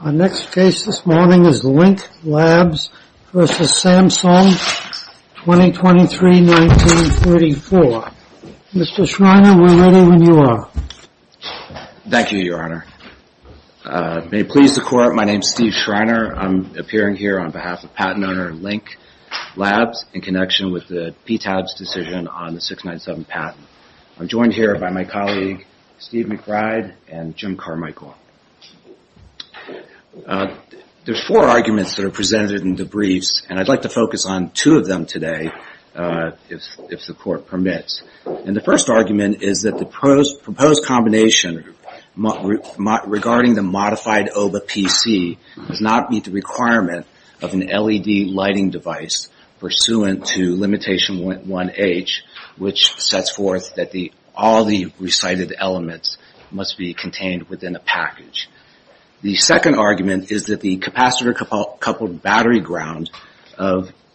Our next case this morning is Link Labs v. Samsung, 2023-1934. Mr. Schreiner, we're ready when you are. Thank you, Your Honor. May it please the Court, my name is Steve Schreiner. I'm appearing here on behalf of patent owner Link Labs in connection with the PTAB's decision on the 697 patent. I'm joined here by my colleague Steve McBride and Jim Carmichael. There are four arguments that are presented in the briefs and I'd like to focus on two of them today, if the Court permits. The first argument is that the proposed combination regarding the modified OBA PC does not meet the requirement of an LED lighting device pursuant to limitation 1H, which sets forth that all the recited elements must be contained within a package. The second argument is that the capacitor-coupled battery ground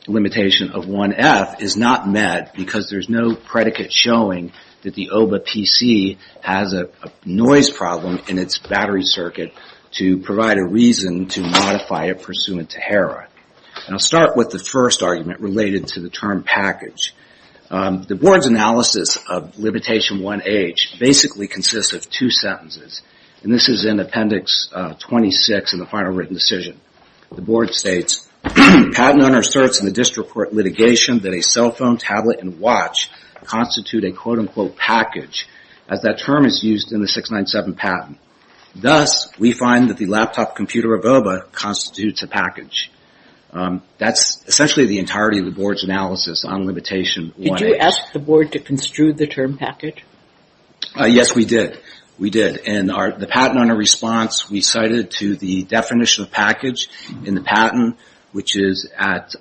limitation of 1F is not met because there is no predicate showing that the OBA PC has a noise problem in its battery circuit to provide a reason to modify it pursuant to HERA. I'll start with the first argument related to the term package. The Board's analysis of limitation 1H basically consists of two sentences. This is in appendix 26 in the final written decision. The Board states, patent owner asserts in the district court litigation that a cell phone, tablet and watch constitute a quote-unquote package as that term is used in the 697 patent. Thus we find that the laptop computer OBA constitutes a package. That's essentially the entirety of the Board's analysis on limitation 1H. Did you ask the Board to construe the term package? Yes, we did. The patent owner response we cited to the definition of package in the patent, which is at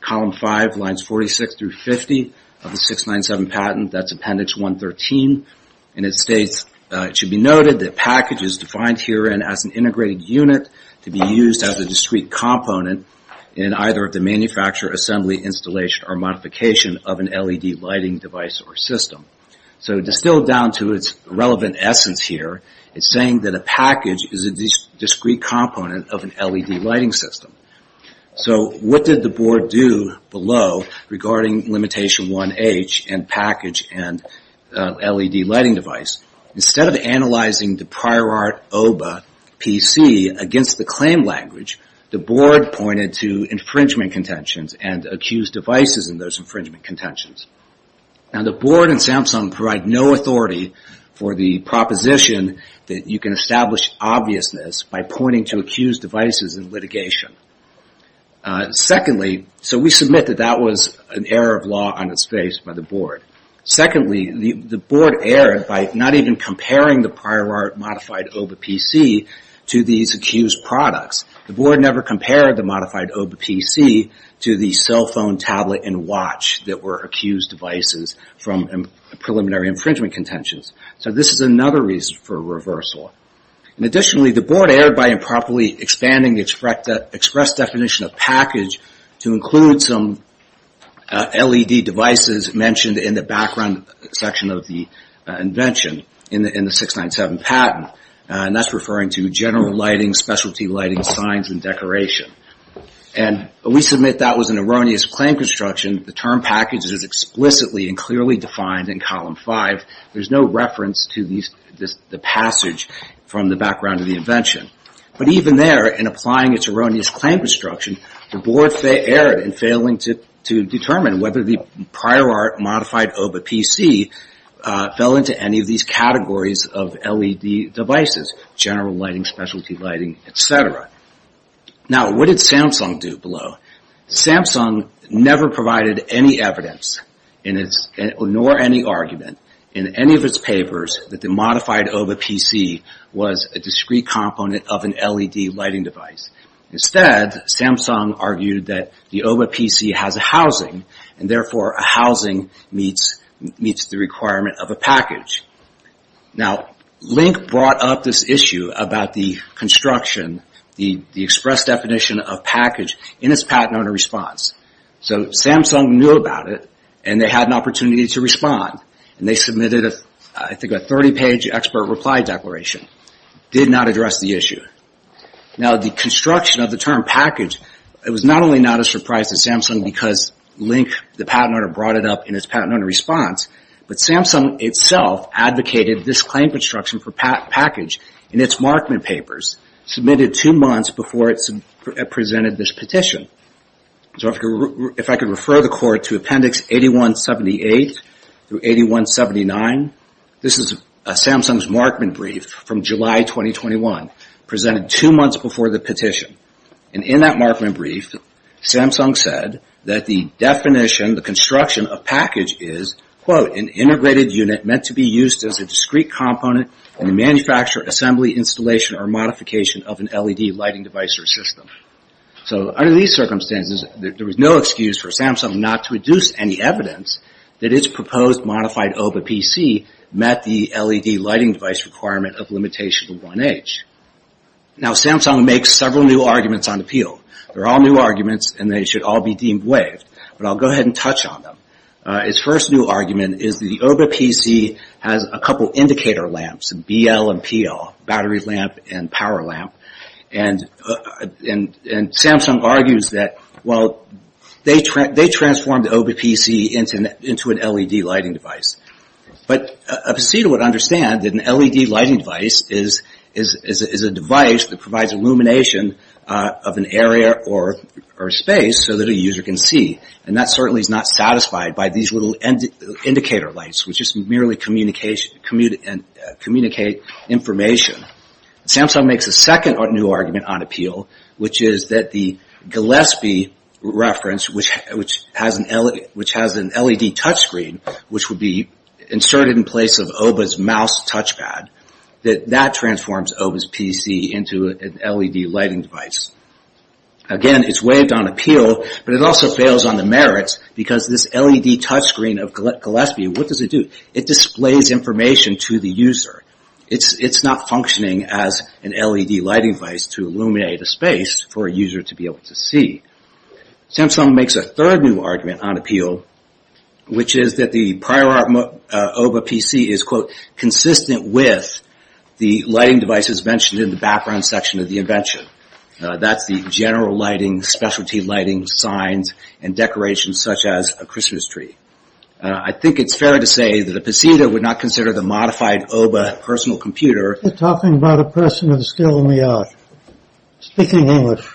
column 5, lines 46 through 50 of the 697 patent, that's appendix 113. It states, it should be noted that package is defined herein as an integrated unit to be used as a discrete component in either of the manufacture, assembly, installation or modification of an LED lighting device or system. So distilled down to its relevant essence here, it's saying that a package is a discrete component of an LED lighting system. So what did the Board do below regarding limitation 1H and package and LED lighting device? Instead of analyzing the prior art OBA PC against the claim language, the Board pointed to infringement contentions and accused devices in those infringement contentions. The Board and Samsung provide no authority for the proposition that you can establish obviousness by pointing to accused devices in litigation. So we submit that that was an error of law on its face by the Board. Secondly, the Board erred by not even comparing the prior art modified OBA PC to these accused products. The Board never compared the modified OBA PC to the cell phone, tablet and watch that were accused devices from preliminary infringement contentions. So this is another reason for reversal. Additionally, the Board erred by improperly expanding the express definition of package to include some LED devices mentioned in the background section of the invention in the 697 patent. That's referring to general lighting, specialty lighting, signs and decoration. We submit that was an erroneous claim construction. The term package is explicitly and clearly defined in column 5. There's no reference to the passage from the background of the invention. But even there, in applying its erroneous claim construction, the Board erred in failing to determine whether the prior art modified OBA PC fell into any of these categories of LED devices, general lighting, specialty lighting, etc. Now what did Samsung do below? Samsung never provided any evidence nor any argument in any of its papers that the modified OBA PC was a component of an LED lighting device. Instead, Samsung argued that the OBA PC has a housing and therefore a housing meets the requirement of a package. Now Link brought up this issue about the construction, the express definition of package in its patent owner response. So Samsung knew about it and they had an opportunity to respond. They submitted I think a 30 page expert reply declaration, did not address the issue. Now the construction of the term package, it was not only not a surprise to Samsung because Link, the patent owner, brought it up in its patent owner response, but Samsung itself advocated this claim construction for package in its Markman papers, submitted two months before it presented this petition. So if I could refer the court to Appendix 8178 through 8179, this is Samsung's Markman brief from July 2021, presented two months before the petition. In that Markman brief, Samsung said that the definition, the construction of package is quote, an integrated unit meant to be used as a discrete component in the manufacture, assembly, installation, or modification of an LED lighting device or system. So under these circumstances, there was no excuse for Samsung not to reduce any evidence that its proposed modified OVA PC met the LED lighting device requirement of limitation of 1H. Now Samsung makes several new arguments on appeal. They're all new arguments and they should all be deemed waived, but I'll go ahead and touch on them. Its first new argument is the OVA PC has a couple indicator lamps, BL and PL, battery lamp and power lamp, and Samsung argues that, well, they transformed the OVA PC into an LED lighting device. But a procedure would understand that an LED lighting device is a device that provides illumination of an area or space so that a user can see, and that certainly is not satisfied by these little indicator lights, which just merely communicate information. Samsung makes a second new argument on appeal, which is that the Gillespie reference, which has an LED touch screen, which would be inserted in place of OVA's mouse touch pad, that that transforms OVA's PC into an LED lighting device. Again, its waived on appeal, but it also fails on the merits because this LED touch screen of Gillespie, what does it do? It displays information to the user. Its not functioning as an LED lighting device to illuminate a space for a user to be able to see. Samsung makes a third new argument on appeal, which is that the prior OVA PC is, quote, that's the general lighting, specialty lighting, signs, and decorations such as a Christmas tree. I think it's fair to say that a PC would not consider the modified OVA personal computer... You're talking about a person of skill in the art, speaking English.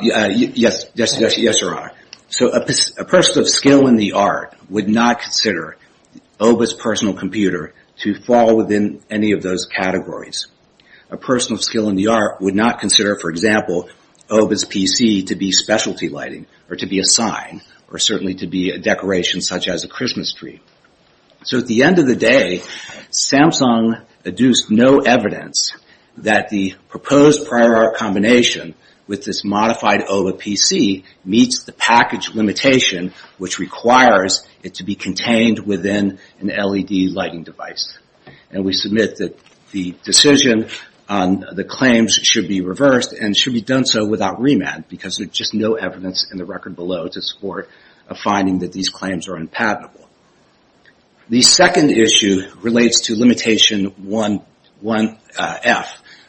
Yes, your honor. So a person of skill in the art would not consider OVA's personal computer to fall within any of those categories. A person of skill in the art would not consider, for example, OVA's PC to be specialty lighting, or to be a sign, or certainly to be a decoration such as a Christmas tree. So at the end of the day, Samsung adduced no evidence that the proposed prior art combination with this modified OVA PC meets the package limitation which requires it to be contained within an LED lighting device. And we submit that the decision on the claims should be reversed and should be done so without remand because there's just no evidence in the record below to support a finding that these claims are unpatentable. The second issue relates to limitation 1F,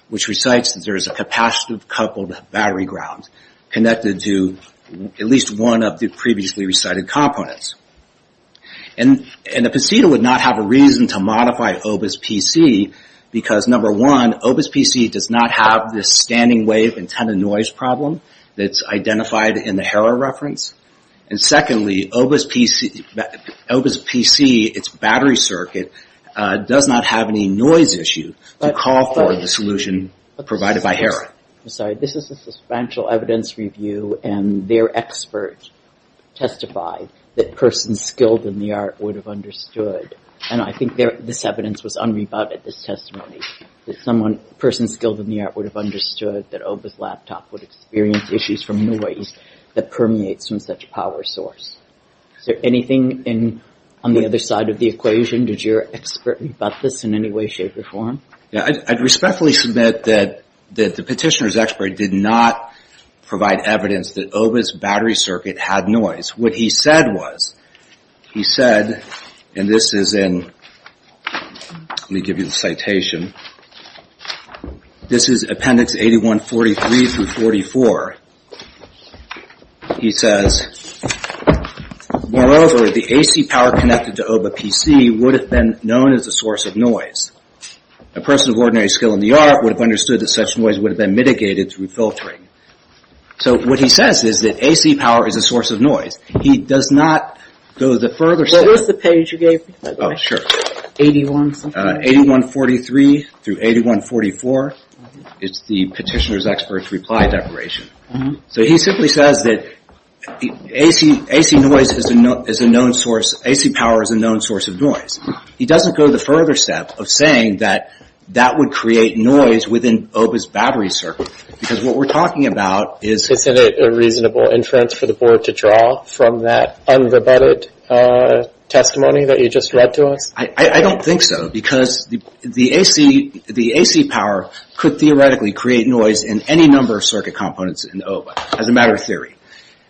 which recites that there is a capacitive coupled battery ground connected to at least one of the previously recited components. And the PCTA would not have a reason to modify OVA's PC because, number one, OVA's PC does not have this standing wave antenna noise problem that's identified in the HERA reference. And secondly, OVA's PC, its battery circuit, does not have any noise issue to call for the solution provided by HERA. This is a substantial evidence review and their expert testified that persons skilled in the art would have understood. And I think this evidence was unrebutted, this testimony. Persons skilled in the art would have understood that OVA's laptop would experience issues from noise that permeates from such a power source. Is there anything on the other side of the equation? Did your expert rebut this in any way, shape, or form? I'd respectfully submit that the petitioner's expert did not provide evidence that OVA's battery circuit had noise. What he said was, he said, and this is in, let me give you the citation, this is appendix 8143-44. He says, moreover, the AC power connected to OVA PC would have been known as a source of noise. A person of ordinary skill in the art would have understood that such noise would have been mitigated through filtering. So what he says is that AC power is a source of noise. He does not go the further step. What was the page you gave me? Sure. 8143-8144. It's the petitioner's expert's reply declaration. So he simply says that AC noise is a known source, AC power is a known source of noise. He doesn't go the further step of saying that that would create noise within OVA's battery circuit. Because what we're talking about is... Isn't it a reasonable inference for the board to draw from that unrebutted testimony that you just read to us? I don't think so. Because the AC power could theoretically create noise in any number of components in OVA, as a matter of theory.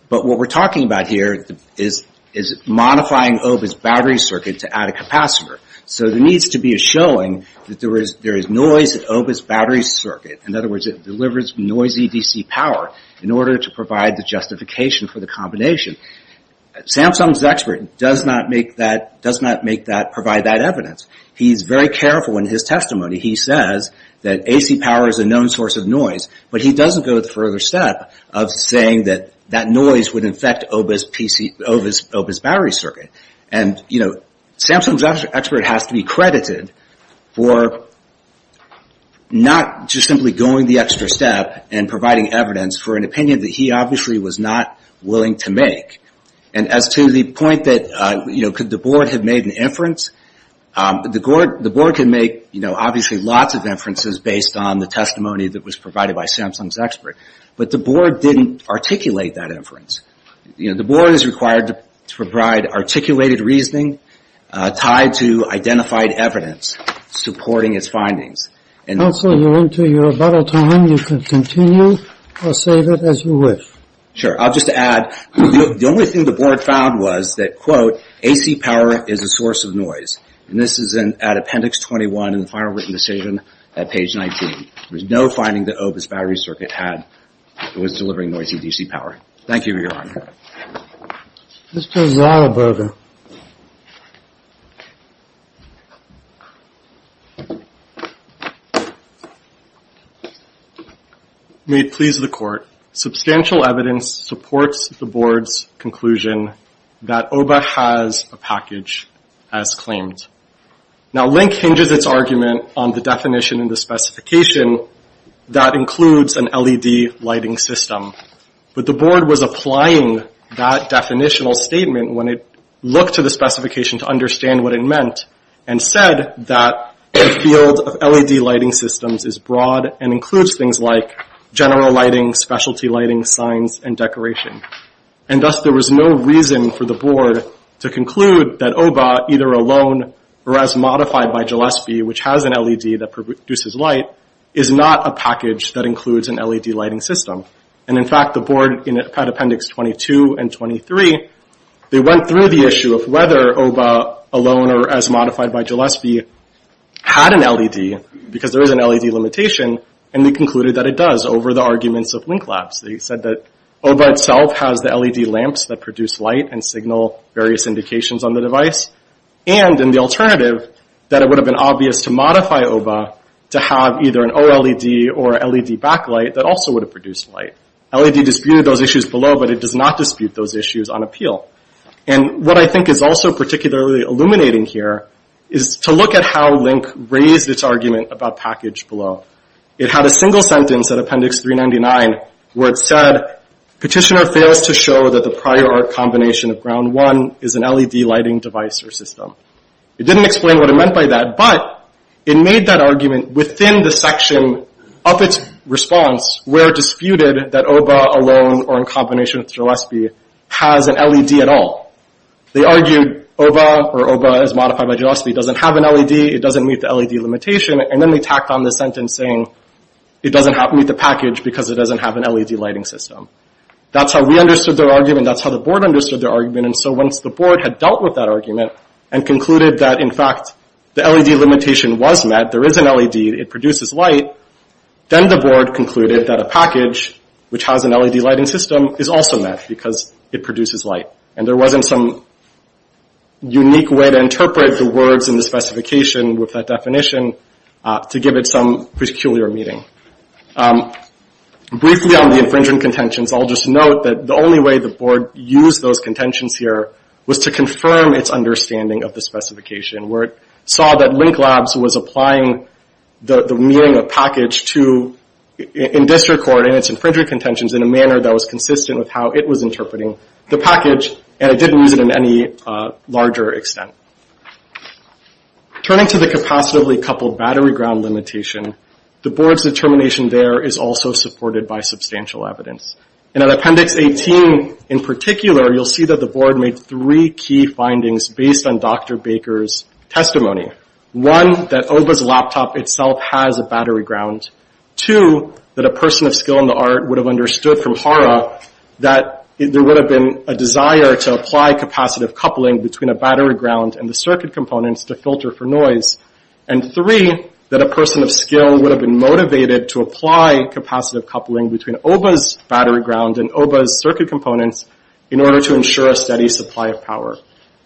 But what we're talking about here is modifying OVA's battery circuit to add a capacitor. So there needs to be a showing that there is noise in OVA's battery circuit. In other words, it delivers noisy DC power in order to provide the justification for the combination. Samsung's expert does not provide that evidence. He's very careful in his testimony. He says that AC power is a known source of noise, but he doesn't go the further step of saying that that noise would infect OVA's battery circuit. Samsung's expert has to be credited for not just simply going the extra step and providing evidence for an opinion that he obviously was not willing to make. As to the point that could the board have made an inference, the board can make obviously lots of inferences based on the testimony that was provided by Samsung's expert. But the board didn't articulate that inference. The board is required to provide articulated reasoning tied to identified evidence supporting its findings. Counsel, you're into your bottle time. You can continue or save it as you wish. Sure. I'll just add, the only thing the board found was that, quote, AC power is a source of noise. This is at appendix 21 in the final written decision at page 19. There's no finding that OVA's battery circuit was delivering noisy DC power. Thank you for your honor. Let's go to Ronald Berger. May it please the court, substantial evidence supports the board's conclusion that OVA has a package as claimed. Now, Link hinges its argument on the definition and the specification that includes an LED lighting system. But the board was applying that definitional statement when it looked to the specification to understand what it meant and said that the field of LED lighting systems is broad and includes things like general lighting, specialty lighting, signs, and decoration. And thus, there was no reason for the board to conclude that OVA, either alone or as modified by Gillespie, which has an LED that produces light, is not a package that includes an LED lighting system. And in fact, the board, at appendix 22 and 23, they went through the issue of whether OVA, alone or as modified by Gillespie, had an LED, because there is an LED limitation, and they concluded that it does over the arguments of Link Labs. They said that OVA itself has the LED lamps that produce light and signal various indications on the device, and in the alternative, that it would have been obvious to modify OVA to have either an OLED or LED backlight that also would have produced light. LED disputed those issues below, but it does not dispute those issues on appeal. And what I think is also particularly illuminating here is to look at how Link raised its argument about package below. It had a single sentence at appendix 399 where it said, Petitioner fails to show that the prior art combination of ground one is an LED lighting device or system. It didn't explain what it meant by that, but it made that argument within the section of its response where it disputed that OVA alone or in combination with Gillespie has an LED at all. They argued OVA, or OVA as modified by Gillespie, doesn't have an LED, it doesn't meet the LED limitation, and then they tacked on the sentence saying it doesn't meet the package because it doesn't have an LED lighting system. That's how we understood their argument, that's how the board understood their argument, and so once the board had dealt with that argument and concluded that, in fact, the LED limitation was met, there is an LED, it produces light, then the board concluded that a package, which has an LED lighting system, is also met because it produces light. And there wasn't some unique way to interpret the words in the specification with that definition to give it some peculiar meaning. Briefly on the infringement contentions, I'll just note that the only way the board used those contentions here was to confirm its understanding of the specification, where it saw that Link Labs was applying the meaning of package to, in district court, and its infringement contentions in a manner that was consistent with how it was interpreting the package, and it didn't use it in any larger extent. Turning to the capacitively coupled battery ground limitation, the board's determination there is also supported by substantial evidence. In Appendix 18, in particular, you'll see that the board made three key findings based on Dr. Baker's testimony. One, that Oba's laptop itself has a battery ground. Two, that a person of skill in the art would have understood from Hara that there would have been a desire to apply capacitive coupling between a battery ground and the circuit components to filter for noise. And three, that a person of skill would have been motivated to apply capacitive coupling between Oba's battery ground and Oba's circuit components in order to ensure a steady supply of power.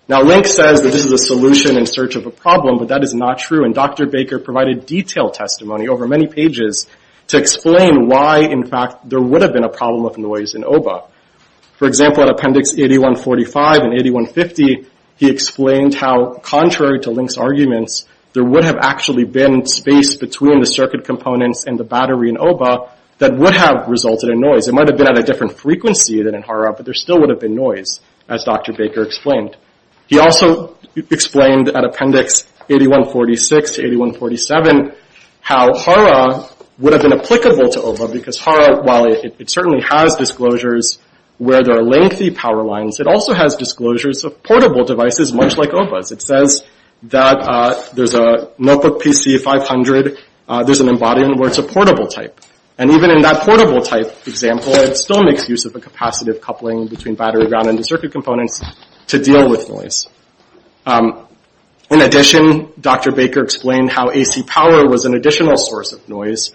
Now Link says that this is a solution in search of a problem, but that is not true, and Dr. Baker provided detailed testimony over many pages to explain why, in fact, there would have been a problem of noise in Oba. For example, in Appendix 8145 and 8150, he explained how, contrary to Link's arguments, there would have actually been space between the circuit components and the battery in Oba that would have resulted in noise. It might have been at a different frequency than in Hara, but there still would have been noise, as Dr. Baker explained. He also explained at Appendix 8146 to 8147 how Hara would have been applicable to Oba, because Hara, while it certainly has disclosures where there are lengthy power lines, it also has disclosures of portable devices, much like Oba's. It says that there's a notebook PC500, there's an embodiment where it's a portable type. And even in that portable type example, it still makes use of a capacitive coupling between battery ground and the circuit components to deal with noise. In addition, Dr. Baker explained how AC power was an additional source of noise.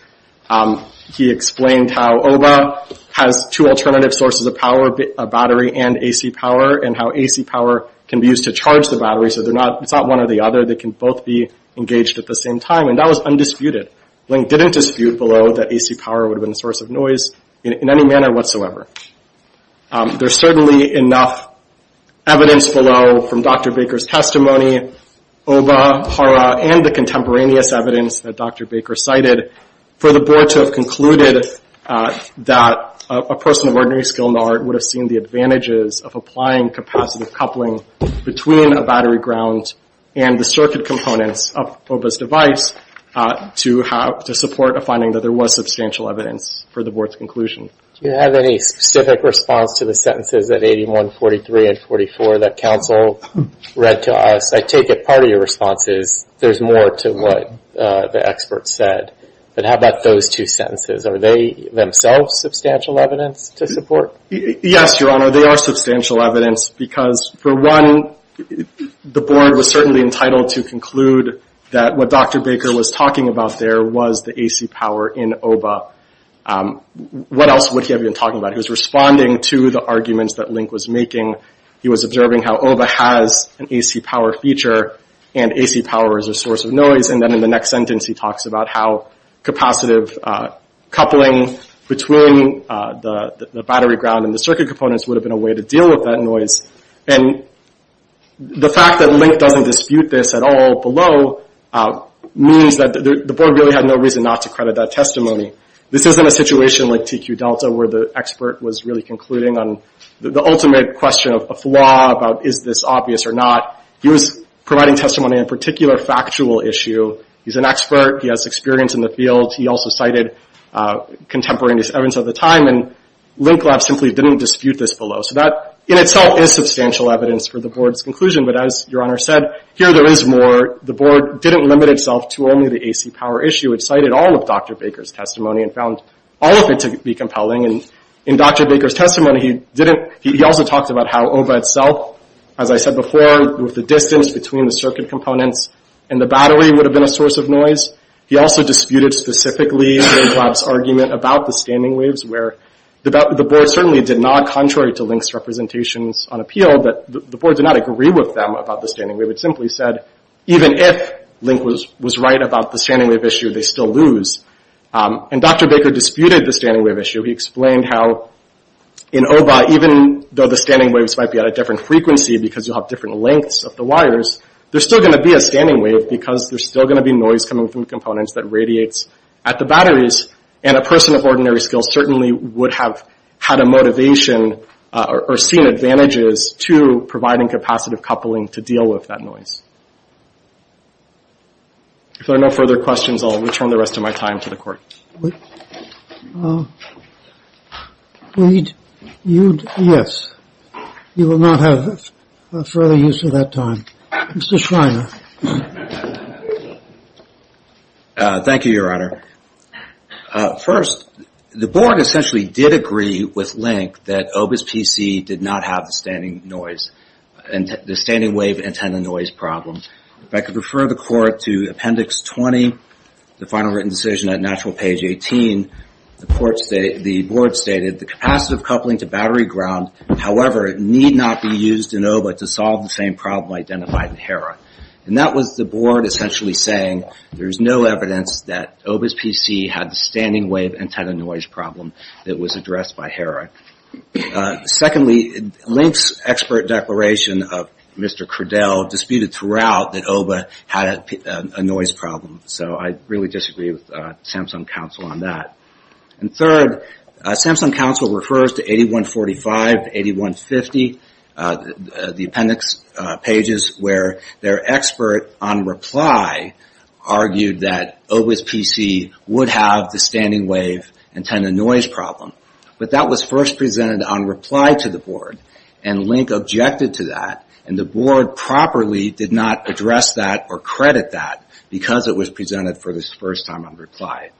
He explained how Oba has two alternative sources of power, a battery and AC power, and how AC power can be used to charge the battery, so it's not one or the other. They can both be engaged at the same time, and that was undisputed. Link didn't dispute below that AC power would have been a source of noise in any manner whatsoever. There's certainly enough evidence below from Dr. Baker's testimony, Oba, Hara, and the contemporaneous evidence that Dr. Baker cited for the board to have concluded that a person of ordinary skill nor would have seen the advantages of applying capacitive coupling between a battery ground and the circuit components of Oba's device to support a finding that there was substantial evidence for the board's conclusion. Do you have any specific response to the sentences at 81, 43, and 44 that counsel read to us? I take it part of your response is there's more to what the expert said. How about those two sentences? Are they themselves substantial evidence to support? Yes, Your Honor, they are substantial evidence because for one, the board was certainly entitled to conclude that what Dr. Baker was talking about there was the AC power in Oba. What else would he have been talking about? He was responding to the arguments that Link was making. He was observing how Oba has an AC power feature and AC power is a source of noise. In the next sentence, he talks about how capacitive coupling between the battery ground and the circuit components would have been a way to deal with that noise. The fact that Link doesn't dispute this at all below means that the board really had no reason not to credit that testimony. This isn't a situation like TQ Delta where the expert was really concluding on the ultimate question of law about is this obvious or not. He was providing testimony on a particular factual issue. He's an expert. He has experience in the field. He also cited contemporaneous evidence at the time. Link lab simply didn't dispute this below. That in itself is substantial evidence for the board's conclusion. As Your Honor said, here there is more. The board didn't limit itself to only the AC power issue. It cited all of Dr. Baker's testimony and found all of it to be compelling. In Dr. Baker's testimony, he also talked about how Oba itself, as I said before, the distance between the circuit components and the battery would have been a source of noise. He also disputed specifically Link lab's argument about the standing waves where the board certainly did not, contrary to Link's representations on appeal, the board did not agree with them about the standing wave. It simply said, even if Link was right about the standing wave issue, they still lose. Dr. Baker disputed the standing wave issue. He explained how in Oba, even though the standing waves might be at a different frequency because you'll have different lengths of the wires, there's still going to be a standing wave because there's still going to be noise coming from components that radiates at the batteries. A person of ordinary skill certainly would have had a motivation or seen advantages to providing capacitive coupling to deal with that noise. If there are no further questions, I'll return the rest of my time to the court. Yes. You will not have further use of that time. Mr. Schreiner. Thank you, Your Honor. First, the board essentially did agree with Link that Oba's PC did not have the standing wave antenna noise problem. If I could refer the court to Appendix 20, the final written decision at Natural Page 18, the board stated, the capacitive coupling to battery ground, however, need not be used in Oba to solve the same problem identified in HERA. That was the board essentially saying there's no evidence that Oba's PC had the standing wave antenna noise problem that was addressed by HERA. Secondly, Link's expert declaration of Mr. Crudell disputed throughout that Oba had a noise problem. So I really disagree with Samsung Counsel on that. And third, Samsung Counsel refers to 8145, 8150, the appendix pages where their expert on reply argued that Oba's PC would have the standing wave antenna noise problem. But that was first presented on reply to the board. And Link objected to that. And the board properly did not address that or credit that because it was presented for the first time on reply.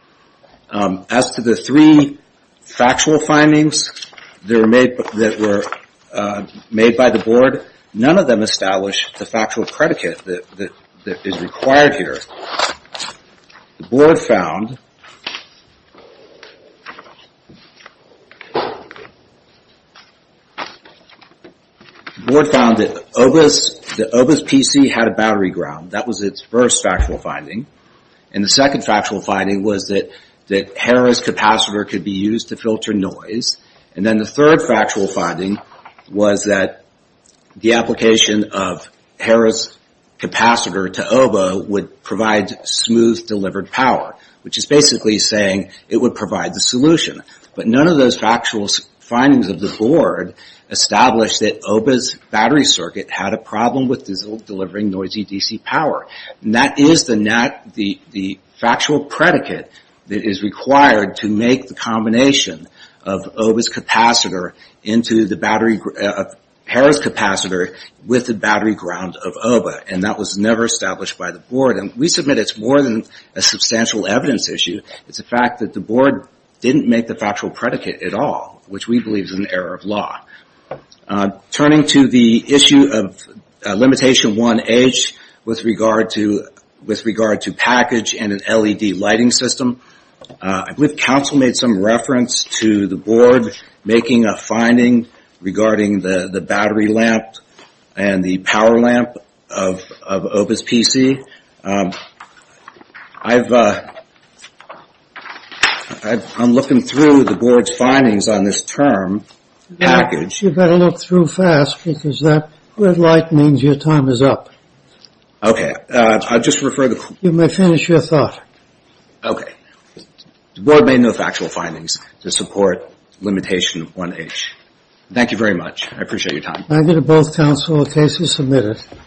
As to the three factual findings that were made by the board, none of them established the factual predicate that is required here. The board found that Oba's PC had a battery ground. That was its first factual finding. And the second factual finding was that HERA's capacitor could be used to filter noise. And then the third factual finding was that the application of HERA's capacitor to Oba would provide smooth delivered power, which is basically saying it would provide the solution. But none of those factual findings of the board established that Oba's battery circuit had a problem with delivering noisy DC power. That is the factual predicate that is required to make the combination of Oba's capacitor into HERA's capacitor with the battery ground of Oba. And that was never established by the board. And we submit it is more than a substantial evidence issue. It is a fact that the board didn't make the factual predicate at all, which we believe is an error of law. Turning to the issue of limitation 1H with regard to package and an LED lighting system, I believe counsel made some reference to the board making a finding regarding the battery lamp and the power lamp of Oba's PC. I'm looking through the board's findings on this term. You better look through fast because that red light means your time is up. You may finish your thought. Okay. The board made no factual findings to support limitation 1H. Thank you very much. I appreciate your time. Thank you to both counsel in case you submit it.